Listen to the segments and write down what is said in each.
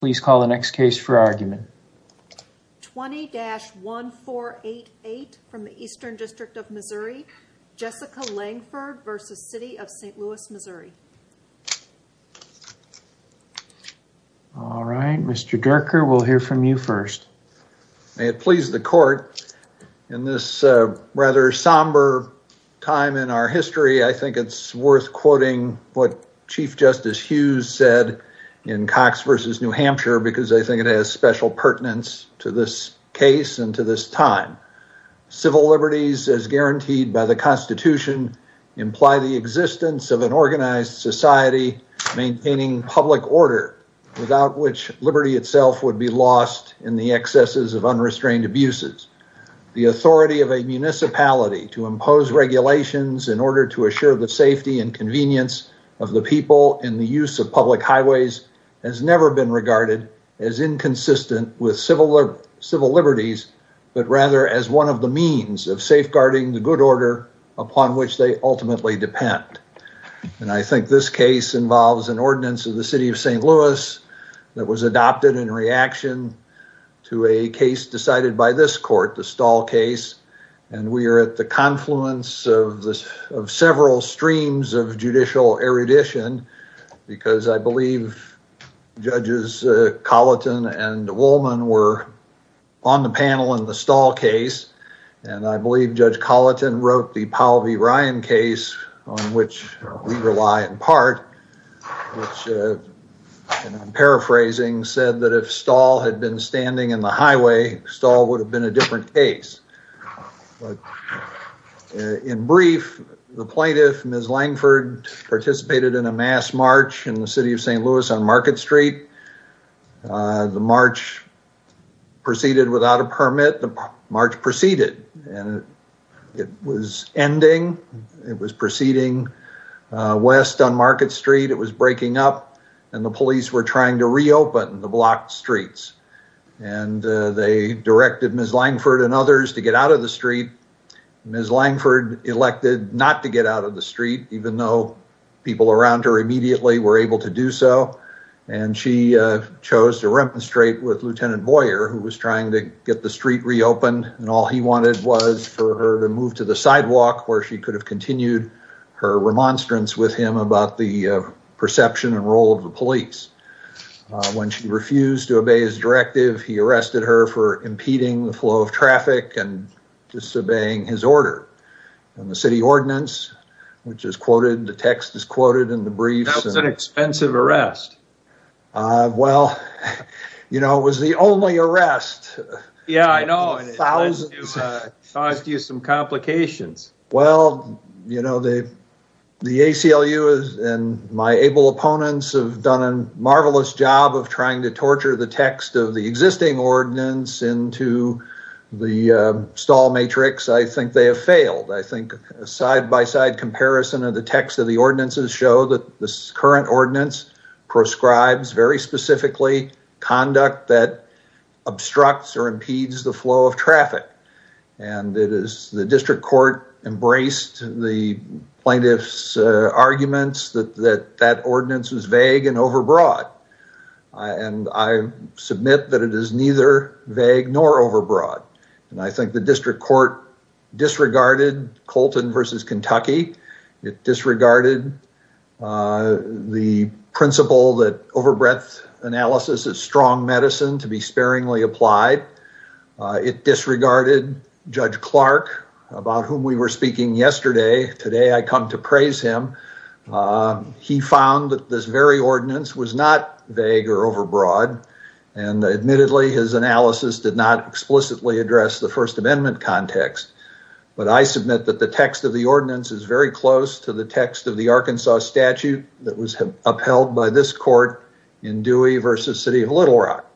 Please call the next case for argument. 20-1488 from the Eastern District of Missouri. Jessica Langford v. City of St. Louis, Missouri. All right, Mr. Derker, we'll hear from you first. May it please the court, in this rather somber time in our history, I think it's worth quoting what Chief Justice Hughes said in Cox v. New Hampshire because I think it has special pertinence to this case and to this time. Civil liberties as guaranteed by the Constitution imply the existence of an organized society maintaining public order without which liberty itself would be lost in the excesses of unrestrained abuses. The authority of a municipality to impose regulations in order to assure the safety and convenience of the people in the use of public highways has never been regarded as inconsistent with civil liberties, but rather as one of the means of safeguarding the good order upon which they ultimately depend. And I think this case involves an ordinance of the City of St. Louis that was adopted in reaction to a case decided by this court, the Stahl case, and we are at the confluence of several streams of judicial erudition because I believe Judges Colleton and Woolman were on the panel in the Stahl case, and I believe Judge Colleton wrote the Powell v. Ryan case, on which we rely in part, which, and I'm paraphrasing, said that if Stahl had been standing in the highway, Stahl would have been a different case. In brief, the plaintiff, Ms. Langford, participated in a mass march in the City of St. Louis on Market Street. The march proceeded without a permit. The march proceeded, and it was ending. It was proceeding west on Market Street. It was breaking up, and the police were trying to reopen the blocked streets, and they directed Ms. Langford and others to get out of the street. Ms. Langford elected not to get out of the street, even though people around her immediately were able to do so, and she chose to remonstrate with Lieutenant Boyer, who was trying to get the street reopened, and all he wanted was for her to move to the sidewalk, where she could have continued her remonstrance with him about the perception and role of the police. When she refused to obey his directive, he arrested her for impeding the flow of traffic and disobeying his order, and the City Ordinance, which is quoted, the text is quoted in the briefs. That was an expensive arrest. Well, you know, it was the only arrest. Yeah, I know. It caused you some complications. Well, you know, the ACLU and my able opponents have done a marvelous job of trying to torture the text of the existing ordinance into the stall matrix. I think they have failed. I think a side-by-side comparison of the text of the ordinances show that this current ordinance proscribes very specifically conduct that obstructs or impedes the flow of traffic, and it is the district court embraced the plaintiff's arguments that that ordinance was vague and overbroad, and I submit that it is neither vague nor overbroad, and I think the district court disregarded Colton versus Kentucky. It disregarded the principle that overbreadth analysis is strong medicine to be sparingly applied. It disregarded Judge Clark, about whom we were speaking yesterday. Today I come to praise him. He found that this very ordinance was not vague or overbroad, and admittedly his analysis did not explicitly address the First Amendment context, but I submit that the text of the statute that was upheld by this court in Dewey versus City of Little Rock.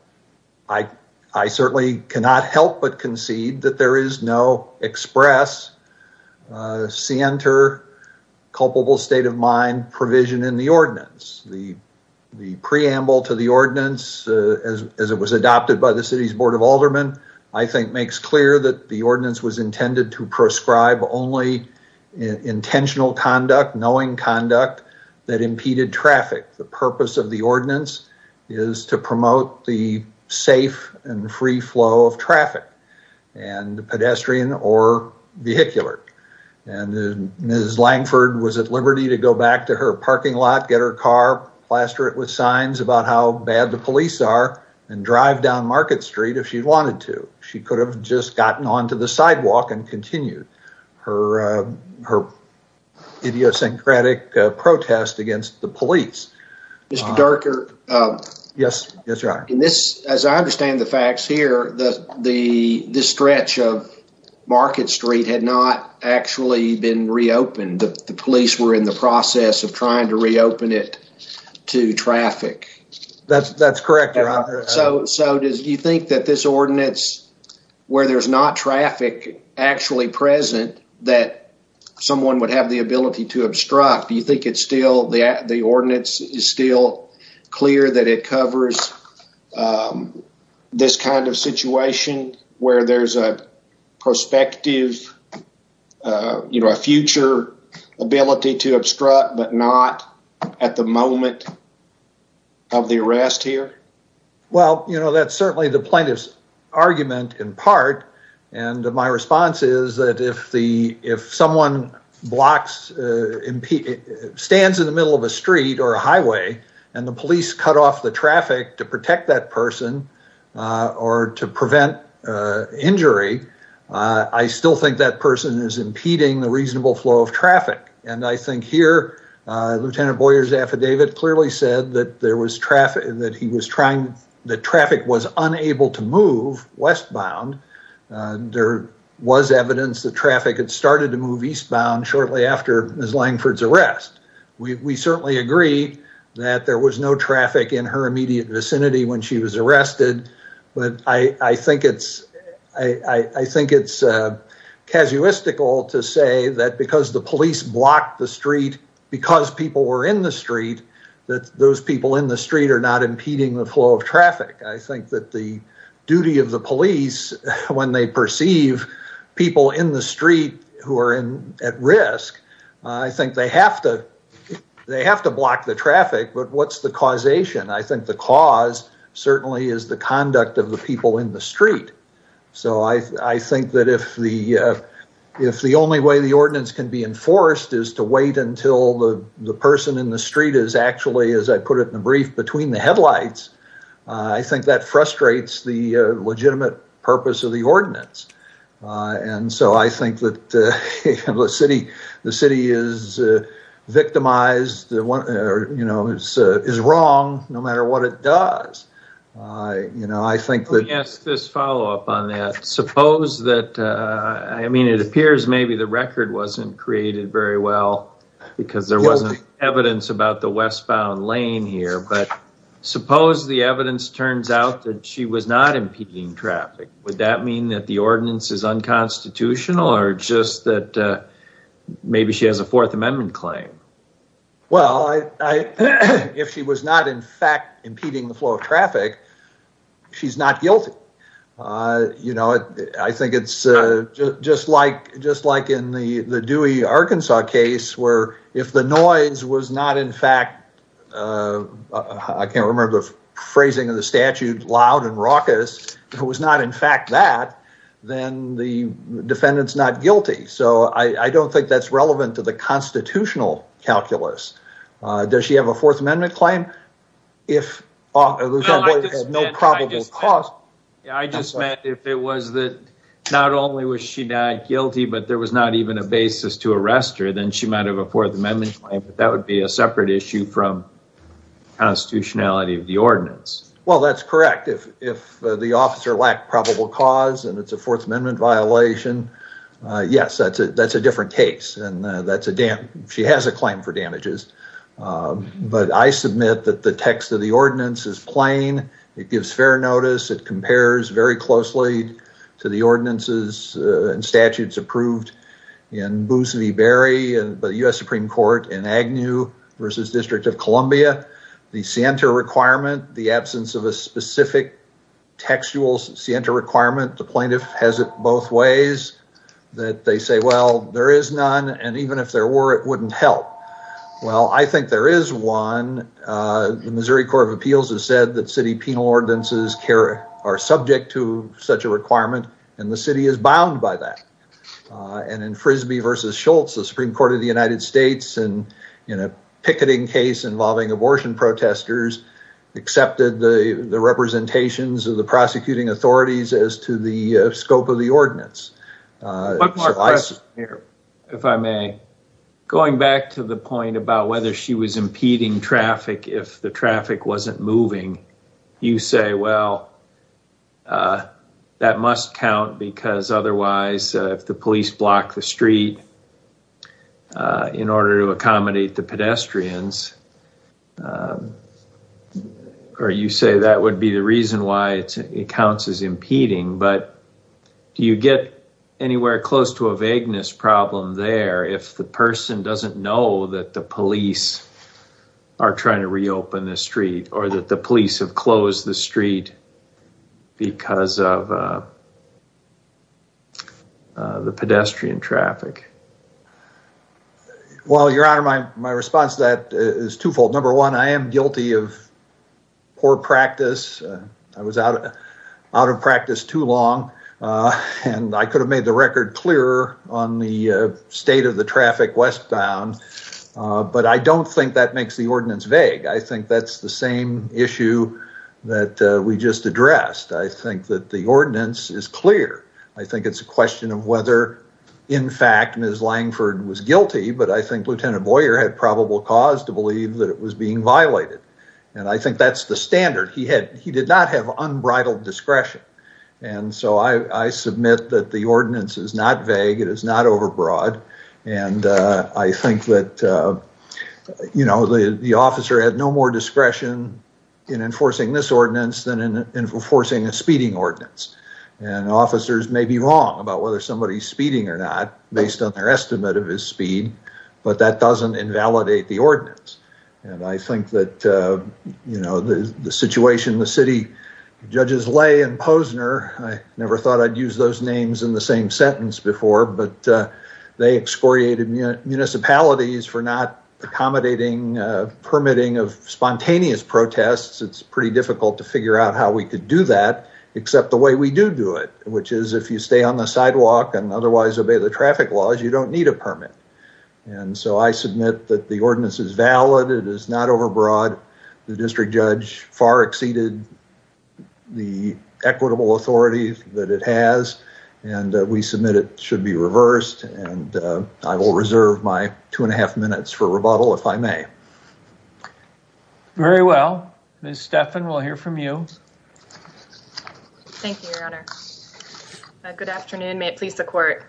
I certainly cannot help but concede that there is no express, scienter, culpable state of mind provision in the ordinance. The preamble to the ordinance as it was adopted by the City's Board of Aldermen, I think makes clear that the ordinance was intended to prescribe only intentional conduct, knowing conduct that impeded traffic. The purpose of the ordinance is to promote the safe and free flow of traffic, and pedestrian or vehicular, and Ms. Langford was at liberty to go back to her parking lot, get her car, plaster it with signs about how bad the police are, and drive down Market Street if she wanted to. She could have just gotten onto the sidewalk and continued her idiosyncratic protest against the police. Mr. Durker, as I understand the facts here, this stretch of Market Street had not actually been reopened. The police were in the process of trying to reopen it to traffic. That's correct, Your Honor. Do you think that this ordinance, where there's not traffic actually present, that someone would have the ability to obstruct? Do you think the ordinance is still clear that it covers this kind of situation where there's a future ability to obstruct, but not at the moment of the arrest here? Well, that's certainly the plaintiff's argument in part, and my response is that if someone stands in the middle of a street or a highway and the police cut off the traffic to protect that of traffic. And I think here, Lieutenant Boyer's affidavit clearly said that traffic was unable to move westbound. There was evidence that traffic had started to move eastbound shortly after Ms. Langford's arrest. We certainly agree that there was no traffic in her block the street, because people were in the street, that those people in the street are not impeding the flow of traffic. I think that the duty of the police, when they perceive people in the street who are at risk, I think they have to block the traffic. But what's the causation? I think the cause certainly is the conduct of the people in the street. So I think that if the only way the ordinance can be enforced is to wait until the person in the street is actually, as I put it in the brief, between the headlights, I think that frustrates the legitimate purpose of the ordinance. And so I think that the city is victimized, is wrong, no matter what it does. Let me ask this follow-up on that. Suppose that, I mean, it appears maybe the record wasn't created very well, because there wasn't evidence about the westbound lane here, but suppose the evidence turns out that she was not impeding traffic. Would that mean that the ordinance is unconstitutional, or just that maybe she has a Fourth Amendment claim? Well, if she was not in fact impeding the flow of traffic, she's not guilty. I think it's just like in the Dewey, Arkansas case, where if the noise was not in fact, I can't remember the phrasing of the statute, loud and raucous, if it was not in fact that, then the defendant's not guilty. So I don't think that's relevant to constitutional calculus. Does she have a Fourth Amendment claim? No probable cause. I just meant if it was that not only was she not guilty, but there was not even a basis to arrest her, then she might have a Fourth Amendment claim, but that would be a separate issue from constitutionality of the ordinance. Well, that's correct. If the officer lacked probable cause, and it's a Fourth Amendment violation, yes, that's a different case, and she has a claim for damages. But I submit that the text of the ordinance is plain. It gives fair notice. It compares very closely to the ordinances and statutes approved in Boos v. Berry by the U.S. Supreme Court in Agnew v. District of Columbia. The scienter requirement, the absence of a specific textual scienter requirement, the plaintiff has it both ways, that they say, well, there is none, and even if there were, it wouldn't help. Well, I think there is one. The Missouri Court of Appeals has said that city penal ordinances are subject to such a requirement, and the city is bound by that. And in Frisbee v. Schultz, the Supreme Court of the United States, in a picketing case involving abortion protesters, accepted the representations of the prosecuting authorities as to the scope of the ordinance. If I may, going back to the point about whether she was impeding traffic if the traffic wasn't moving, you say, well, that must count, because otherwise, if the police block the street in order to accommodate the pedestrians, or you say that would be the reason why it counts as impeding, but do you get anywhere close to a vagueness problem there if the person doesn't know that the police are trying to reopen the street or that the police have closed the street because of the pedestrian traffic? Well, Your Honor, my response to that is twofold. Number one, I am guilty of poor practice. I was out of practice too long, and I could have made the record clearer on the state of the traffic westbound, but I don't think that makes the ordinance vague. I think that's the same issue that we just addressed. I think that the ordinance is clear. I think it's a guilty, but I think Lieutenant Boyer had probable cause to believe that it was being violated, and I think that's the standard. He did not have unbridled discretion, and so I submit that the ordinance is not vague. It is not overbroad, and I think that, you know, the officer had no more discretion in enforcing this ordinance than in enforcing a speeding ordinance, and officers may be wrong about whether somebody's speeding or not based on their estimate of his speed, but that doesn't invalidate the ordinance, and I think that, you know, the situation the city judges Lay and Posner, I never thought I'd use those names in the same sentence before, but they excoriated municipalities for not accommodating permitting of spontaneous protests. It's pretty difficult to figure out how we could do that except the way we do do it, which is if you stay on the sidewalk and otherwise obey the traffic laws, you don't need a permit, and so I submit that the ordinance is valid. It is not overbroad. The district judge far exceeded the equitable authority that it has, and we submit it should be reversed, and I will reserve my two and a half minutes for rebuttal if I may. Very well. Ms. Stephan, we'll hear from you. Thank you, Your Honor. Good afternoon. May it please the court.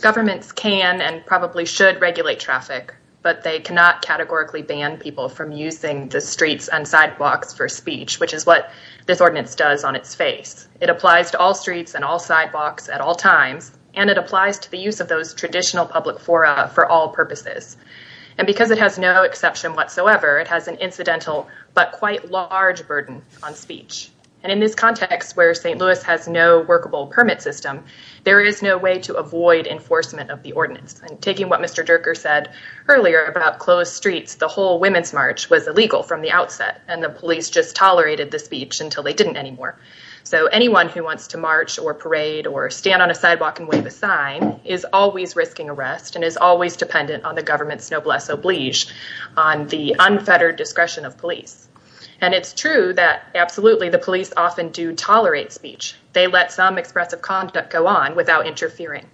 Governments can and probably should regulate traffic, but they cannot categorically ban people from using the streets and sidewalks for speech, which is what this ordinance does on its face. It applies to all streets and all sidewalks at all times, and it applies to the use of those traditional public fora for all purposes, and because it has no exception whatsoever, it has an incidental but quite large burden on speech, and in this context where St. Louis has no workable permit system, there is no way to avoid enforcement of the ordinance, and taking what Mr. Durker said earlier about closed streets, the whole women's march was illegal from the outset, and the police just tolerated the speech until they didn't anymore, so anyone who wants to march or parade or stand on a sidewalk and wave a sign is always risking arrest and is always dependent on the unfettered discretion of police, and it's true that absolutely the police often do tolerate speech. They let some expressive conduct go on without interfering,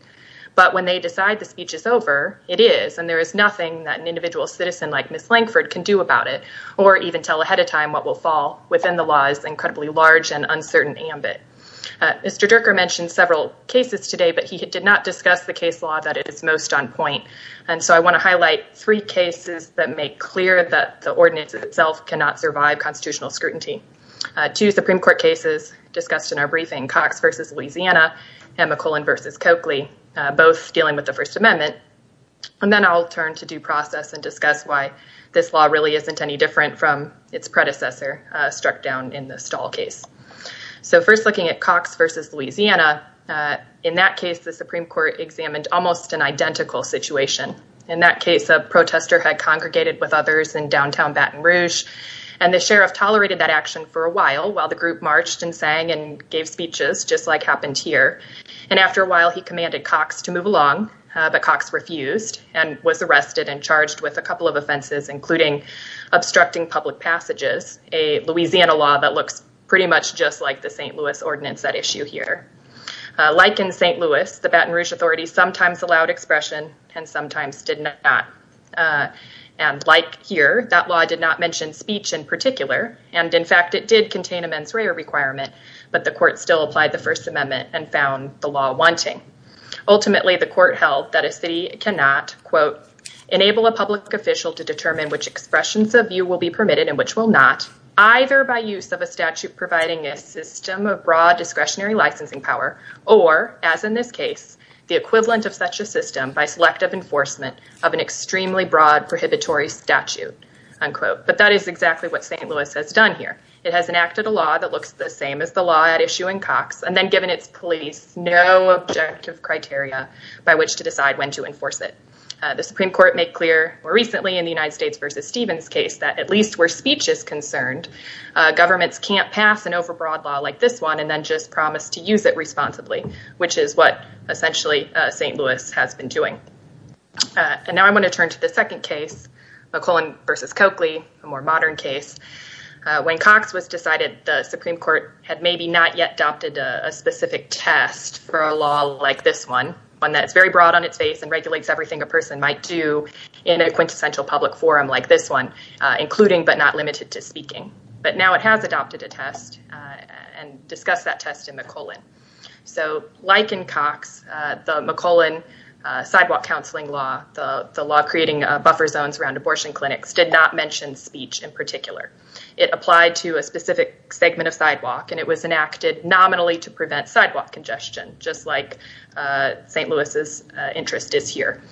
but when they decide the speech is over, it is, and there is nothing that an individual citizen like Ms. Lankford can do about it or even tell ahead of time what will fall within the law's incredibly large and uncertain ambit. Mr. Durker mentioned several cases today, but he did not discuss the case law that it is most on the ordinance itself cannot survive constitutional scrutiny. Two Supreme Court cases discussed in our briefing, Cox v. Louisiana and McClellan v. Coakley, both dealing with the First Amendment, and then I'll turn to due process and discuss why this law really isn't any different from its predecessor struck down in the Stahl case. So first looking at Cox v. Louisiana, in that case the Supreme Court examined almost an identical situation. In that case, a protester had congregated with others in downtown Baton Rouge, and the sheriff tolerated that action for a while while the group marched and sang and gave speeches just like happened here, and after a while he commanded Cox to move along, but Cox refused and was arrested and charged with a couple of offenses including obstructing public passages, a Louisiana law that looks pretty much just like the St. Louis ordinance at issue here. Like in St. Louis, the Baton Rouge Authority sometimes allowed expression and sometimes did not, and like here, that law did not mention speech in particular, and in fact it did contain a mens rea requirement, but the court still applied the First Amendment and found the law wanting. Ultimately the court held that a city cannot, quote, enable a public official to determine which expressions of view will be permitted and which will not, either by use of a statute providing a system of broad discretionary licensing power, or as in this case, the equivalent of such a system by selective enforcement of an extremely broad prohibitory statute, unquote. But that is exactly what St. Louis has done here. It has enacted a law that looks the same as the law at issue in Cox, and then given its police no objective criteria by which to decide when to enforce it. The Supreme Court made clear more recently in the United States v. Stevens case that at least where speech is concerned, governments can't pass an overbroad law like this one and then just promise to use it responsibly, which is what essentially St. Louis has been doing. And now I'm going to turn to the second case, McClellan v. Coakley, a more modern case. When Cox was decided, the Supreme Court had maybe not yet adopted a specific test for a law like this one, one that's very broad on its face and regulates everything a person might do in a quintessential public forum like this one, including but not limited to speaking. But now it has adopted a test and discussed that test in McClellan. So like in Cox, the McClellan sidewalk counseling law, the law creating buffer zones around abortion clinics, did not mention speech in particular. It applied to a specific segment of sidewalk and it was enacted nominally to prevent sidewalk congestion, just like St. Louis's interest is here.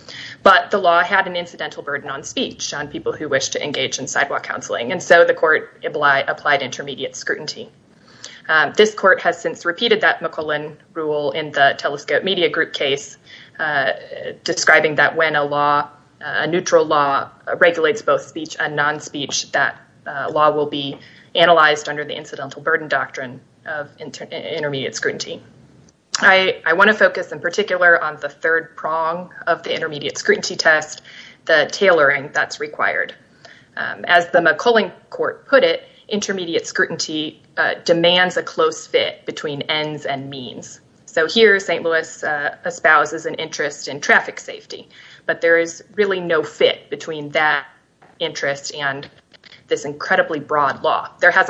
But the law had an incidental burden on speech on people who wish to engage in sidewalk counseling, and so the court applied intermediate scrutiny. This court has since repeated that McClellan rule in the Telescope Media Group case, describing that when a neutral law regulates both speech and non-speech, that law will be analyzed under the incidental burden doctrine of intermediate scrutiny. I want to focus in particular on the third prong of the intermediate scrutiny test, the tailoring that's required. As the McClellan court put it, intermediate scrutiny demands a close fit between ends and means. So here St. Louis espouses an interest in traffic safety, but there is really no fit between that interest and this incredibly broad law. There could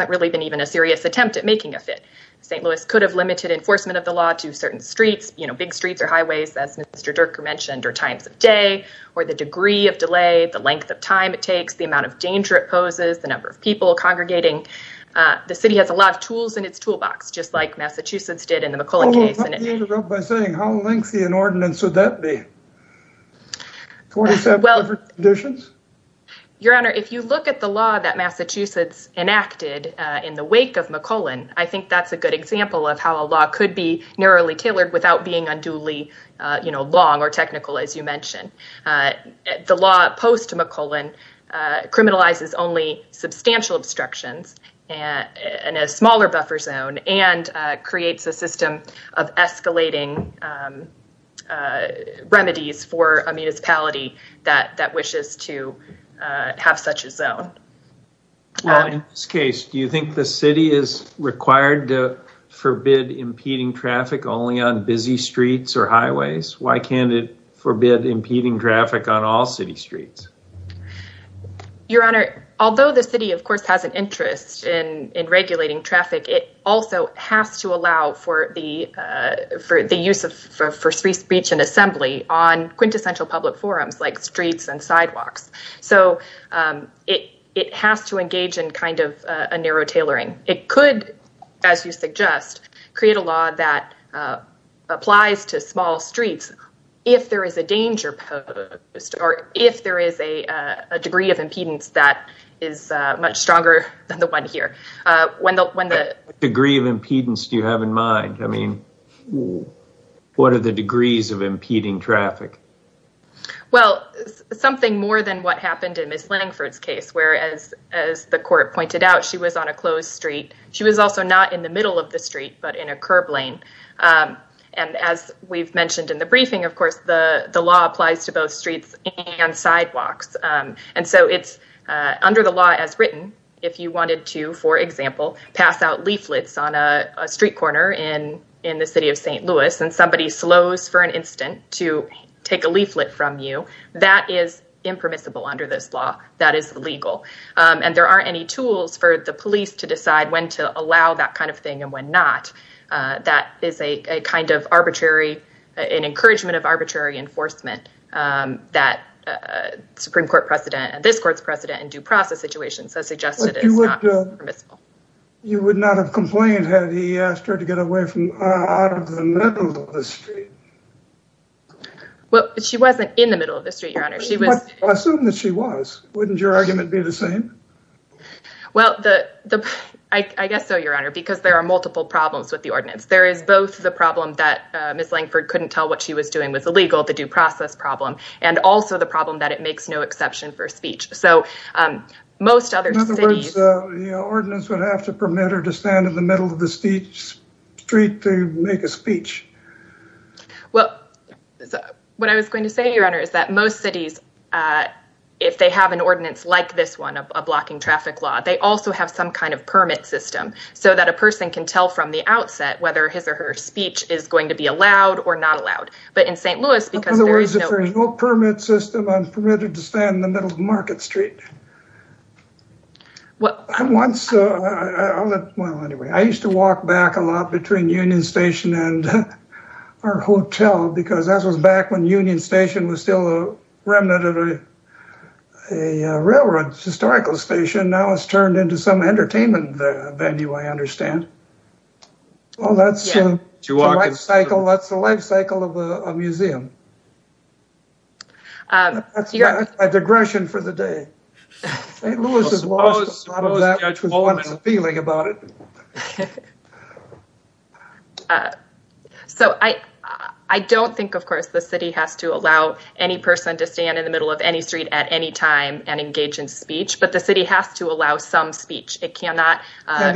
have limited enforcement of the law to certain streets, big streets or highways, as Mr. Dirker mentioned, or times of day, or the degree of delay, the length of time it takes, the amount of danger it poses, the number of people congregating. The city has a lot of tools in its toolbox, just like Massachusetts did in the McClellan case. How lengthy an ordinance would that be? Your Honor, if you look at the law that Massachusetts enacted in the wake of McClellan, I think that's a good example of how a law could be narrowly tailored without being unduly long or technical, as you mentioned. The law post-McClellan criminalizes only substantial obstructions and a smaller buffer zone and creates a system of escalating remedies for a municipality that wishes to have such a zone. Well, in this case, do you think the city is required to forbid impeding traffic only on busy streets or highways? Why can't it forbid impeding traffic on all city streets? Your Honor, although the city of course has an interest in regulating traffic, it also has to allow for the use of free speech and assembly on quintessential public forums like streets and it has to engage in kind of a narrow tailoring. It could, as you suggest, create a law that applies to small streets if there is a danger posed or if there is a degree of impedance that is much stronger than the one here. What degree of impedance do you have in mind? What are the degrees of impeding traffic? Well, something more than what happened in Ms. Leningford's case, where as the court pointed out, she was on a closed street. She was also not in the middle of the street, but in a curb lane. And as we've mentioned in the briefing, of course, the law applies to both streets and sidewalks. And so it's under the law as written, if you wanted to, for example, pass out leaflets on a street corner in the city of St. Louis and somebody slows for an instant to take a leaflet from you, that is impermissible under this law. That is illegal. And there aren't any tools for the police to decide when to allow that kind of thing and when not. That is a kind of arbitrary, an encouragement of arbitrary enforcement that a Supreme Court precedent and this court's precedent in due process situations has suggested it is not permissible. You would not have complained had he asked her to get away from out of the middle of the street. Well, she wasn't in the middle of the street, Your Honor. Assume that she was. Wouldn't your argument be the same? Well, I guess so, Your Honor, because there are multiple problems with the ordinance. There is both the problem that Ms. Leningford couldn't tell what she was doing was illegal, the due process problem, and also the ordinance would have to permit her to stand in the middle of the street to make a speech. Well, what I was going to say, Your Honor, is that most cities, if they have an ordinance like this one, a blocking traffic law, they also have some kind of permit system so that a person can tell from the outset whether his or her speech is going to be allowed or not allowed. But in St. Louis, because there is no permit system, I'm permitted to stand in the middle of Market Street. I used to walk back a lot between Union Station and our hotel because that was back when Union Station was still a remnant of a railroad historical station. Now it's turned into some entertainment venue, I understand. Well, that's the life cycle of a museum. That's my digression for the day. St. Louis has lost a lot of that with one's feeling about it. So I don't think, of course, the city has to allow any person to stand in the middle of any street at any time and engage in speech, but the city has to allow some speech. It cannot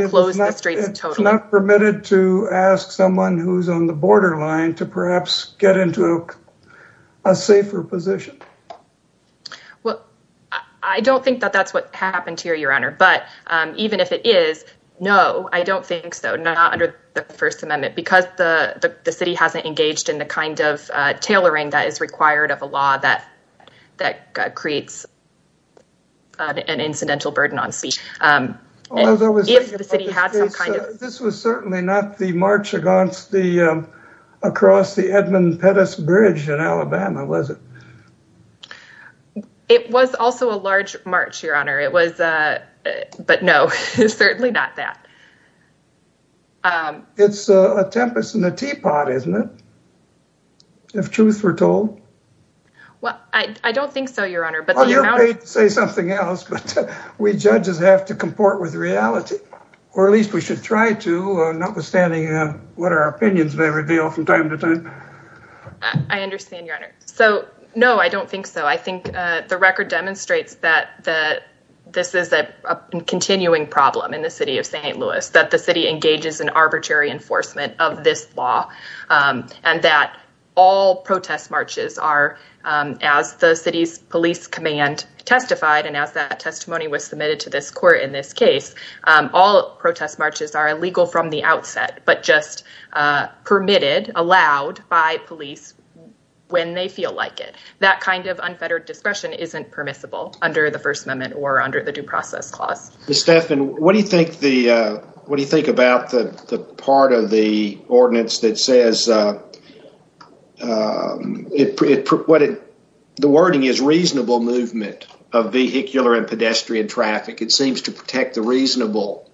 close the streets totally. It's not permitted to ask someone who's on the borderline to perhaps get into a safer position. Well, I don't think that that's what happened here, Your Honor. But even if it is, no, I don't think so, not under the First Amendment, because the city hasn't engaged in the kind of tailoring that is required of a law that creates an incidental burden on the city. This was certainly not the march across the Edmund Pettus Bridge in Alabama, was it? It was also a large march, Your Honor, but no, certainly not that. It's a tempest in a teapot, isn't it, if truth were told? Well, I don't think so, Your Honor. You're paid to say something else, but we judges have to comport with reality, or at least we should try to, notwithstanding what our opinions may reveal from time to time. I understand, Your Honor. So, no, I don't think so. I think the record demonstrates that this is a continuing problem in the city of St. Louis, that the city engages in arbitrary testifying, and as that testimony was submitted to this court in this case, all protest marches are illegal from the outset, but just permitted, allowed by police when they feel like it. That kind of unfettered discretion isn't permissible under the First Amendment or under the Due Process Clause. Ms. Staffan, what do you think about the part of the ordinance that says that the wording is reasonable movement of vehicular and pedestrian traffic. It seems to protect the reasonable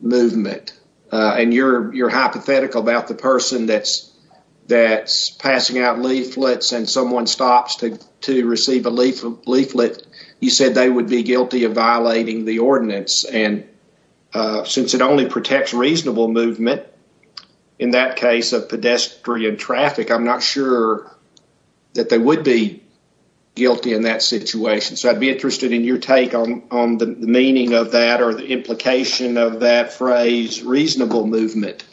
movement, and you're hypothetical about the person that's passing out leaflets and someone stops to receive a leaflet. You said they would be guilty of violating the ordinance, and since it only protects reasonable movement in that case of pedestrian traffic, I'm not sure that they would be guilty in that situation. So, I'd be interested in your take on the meaning of that or the implication of that phrase, reasonable movement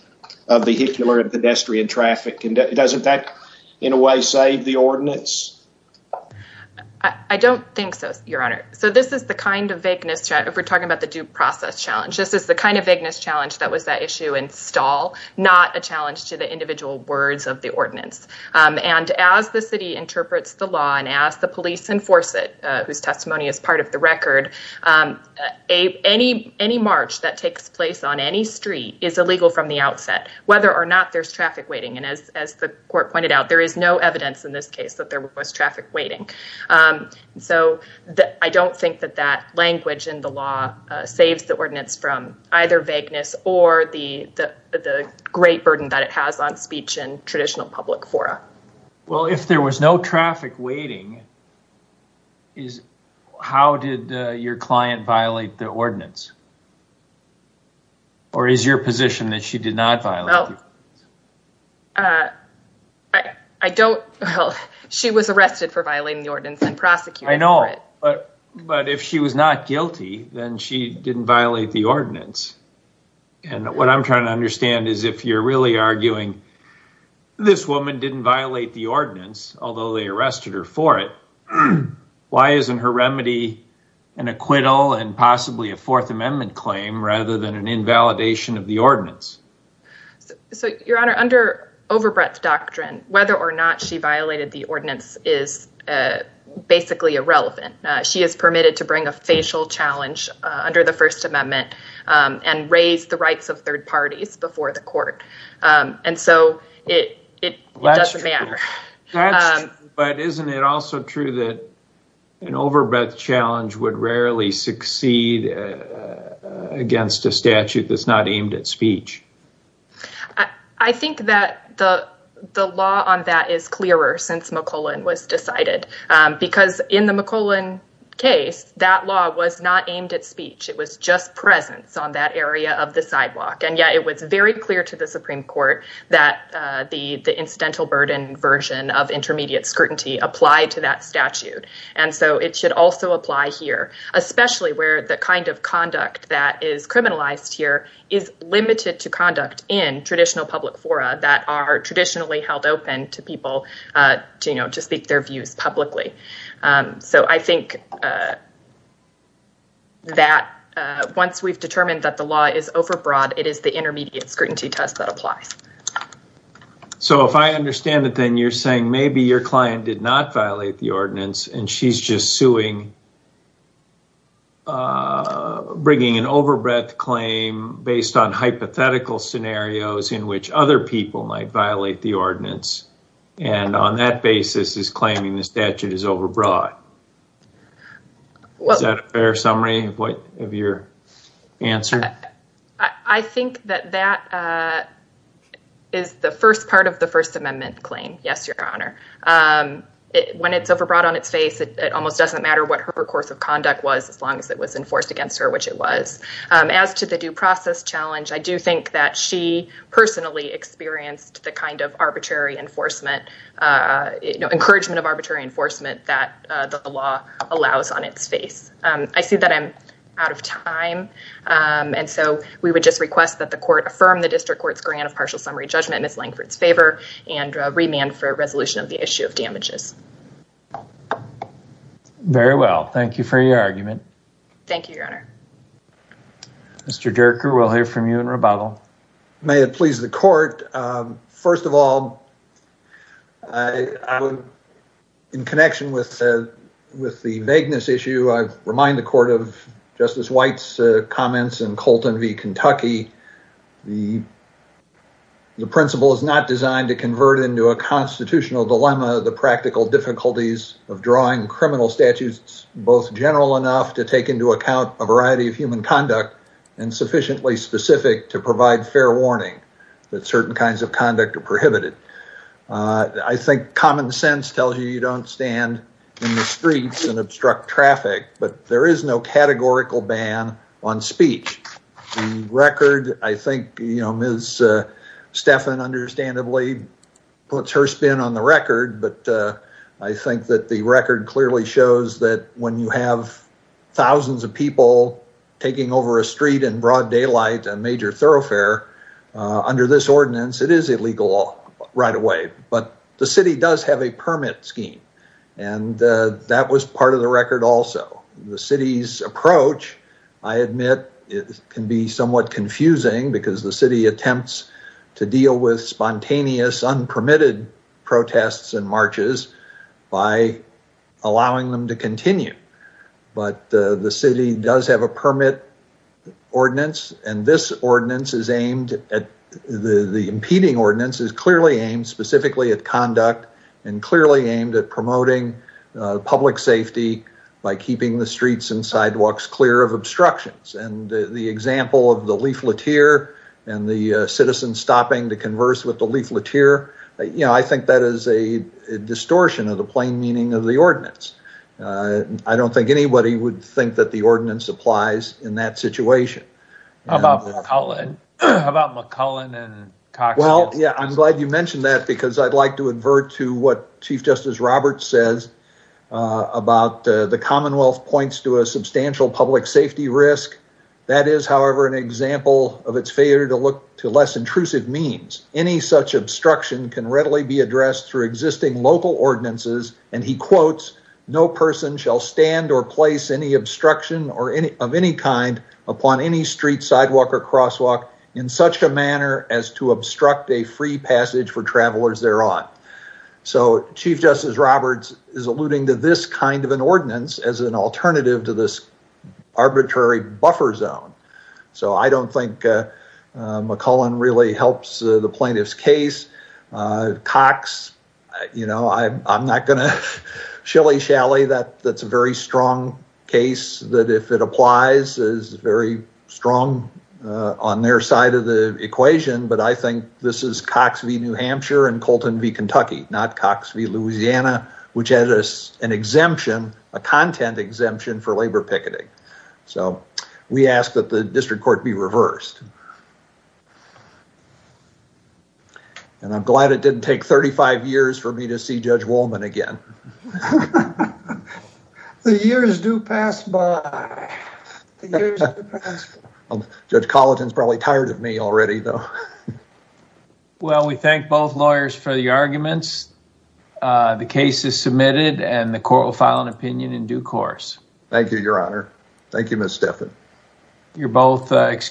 of vehicular and pedestrian traffic. Does that, in a way, save the ordinance? I don't think so, Your Honor. So, this is the kind of vagueness, if we're talking about the due process challenge, this is the kind of vagueness challenge that was that issue in stall, not a challenge to the individual words of the ordinance. And as the city interprets the law, and as the police enforce it, whose testimony is part of the record, any march that takes place on any street is illegal from the outset, whether or not there's traffic waiting. And as the court pointed out, there is no evidence in this case that there was traffic waiting. So, I don't think that that language in the law saves the ordinance from either vagueness or the great burden that it has on speech in traditional public fora. Well, if there was no traffic waiting, how did your client violate the ordinance? Or is your position that she did not violate? I don't, well, she was arrested for violating the ordinance and prosecuted for it. I know, but if she was not guilty, then she didn't violate the ordinance. And what I'm trying to understand is if you're really arguing this woman didn't violate the ordinance, although they arrested her for it, why isn't her remedy an acquittal and possibly a Fourth Amendment claim rather than an invalidation of the ordinance? So, Your Honor, under overbreadth doctrine, whether or not she violated the ordinance is basically irrelevant. She is permitted to bring a facial challenge under the First Amendment and raise the rights of third parties before the court. And so, it doesn't matter. That's true. But isn't it also true that an overbreadth challenge would rarely succeed against a statute that's not aimed at speech? I think that the law on that is clearer since McClellan was decided. Because in the McClellan case, that law was not aimed at speech. It was just presence on that area of the sidewalk. And yet it was very clear to the Supreme Court that the incidental burden version of intermediate scrutiny applied to that statute. And so, it should also apply here, especially where the conduct that is criminalized here is limited to conduct in traditional public fora that are traditionally held open to people to speak their views publicly. So, I think that once we've determined that the law is overbroad, it is the intermediate scrutiny test that applies. So, if I understand it, then you're saying maybe your client did not violate the ordinance. You're bringing an overbreadth claim based on hypothetical scenarios in which other people might violate the ordinance. And on that basis, is claiming the statute is overbroad. Is that a fair summary of your answer? I think that that is the first part of the First Amendment claim. Yes, Your Honor. When it's overbroad on its face, it almost doesn't matter what her course of conduct was as long as it was enforced against her, which it was. As to the due process challenge, I do think that she personally experienced the kind of encouragement of arbitrary enforcement that the law allows on its face. I see that I'm out of time. And so, we would just request that the court affirm the district court's grant of partial summary judgment mislaying for its favor and remand for resolution of the issue of damages. Very well. Thank you for your argument. Thank you, Your Honor. Mr. Derker, we'll hear from you in rebuttal. May it please the court. First of all, in connection with the vagueness issue, I remind the court of Justice White's comments in Colton v. Dilemma, the practical difficulties of drawing criminal statutes both general enough to take into account a variety of human conduct and sufficiently specific to provide fair warning that certain kinds of conduct are prohibited. I think common sense tells you you don't stand in the streets and obstruct traffic, but there is no categorical ban on speech. The record, I think, you know, Ms. Stephan, understandably, puts her spin on the record, but I think that the record clearly shows that when you have thousands of people taking over a street in broad daylight and major thoroughfare, under this ordinance, it is illegal right away. But the city does have a permit scheme. And that was part of the record also. The city's approach, I admit, can be somewhat confusing because the city attempts to deal with spontaneous, unpermitted protests and marches by allowing them to continue. But the city does have a permit ordinance, and this ordinance is aimed at the impeding ordinance is clearly aimed specifically at conduct and clearly aimed at promoting public safety by keeping the streets and sidewalks clear of obstructions. And the example of the leaflet here and the citizens stopping to converse with the leaflet here, you know, I think that is a distortion of the plain meaning of the ordinance. I don't think anybody would think that the ordinance applies in that situation. How about McCullen? How about McCullen and Cox? Well, yeah, I'm glad you mentioned that because I'd like to invert to what Chief Justice Roberts says about the Commonwealth points to a substantial public safety risk. That is, however, an example of its failure to look to less intrusive means. Any such obstruction can readily be addressed through existing local ordinances, and he quotes, no person shall stand or place any obstruction of any kind upon any street, sidewalk, or crosswalk in such a manner as to obstruct a free passage for travelers thereon. So Chief Justice Roberts is alluding to this kind of an ordinance as an alternative to this arbitrary buffer zone. So I don't think McCullen really helps the plaintiff's case. Cox, you know, I'm not going to shilly-shally that's a strong case that if it applies is very strong on their side of the equation, but I think this is Cox v. New Hampshire and Colton v. Kentucky, not Cox v. Louisiana, which has an exemption, a content exemption for labor picketing. So we ask that the district court be reversed. And I'm glad it didn't take 35 years for me to see Judge Woolman again. The years do pass by. Judge Colton's probably tired of me already, though. Well, we thank both lawyers for the arguments. The case is submitted, and the court will file an opinion in due course. Thank you, Your Honor. Thank you, Ms. Stephan. You're both excused.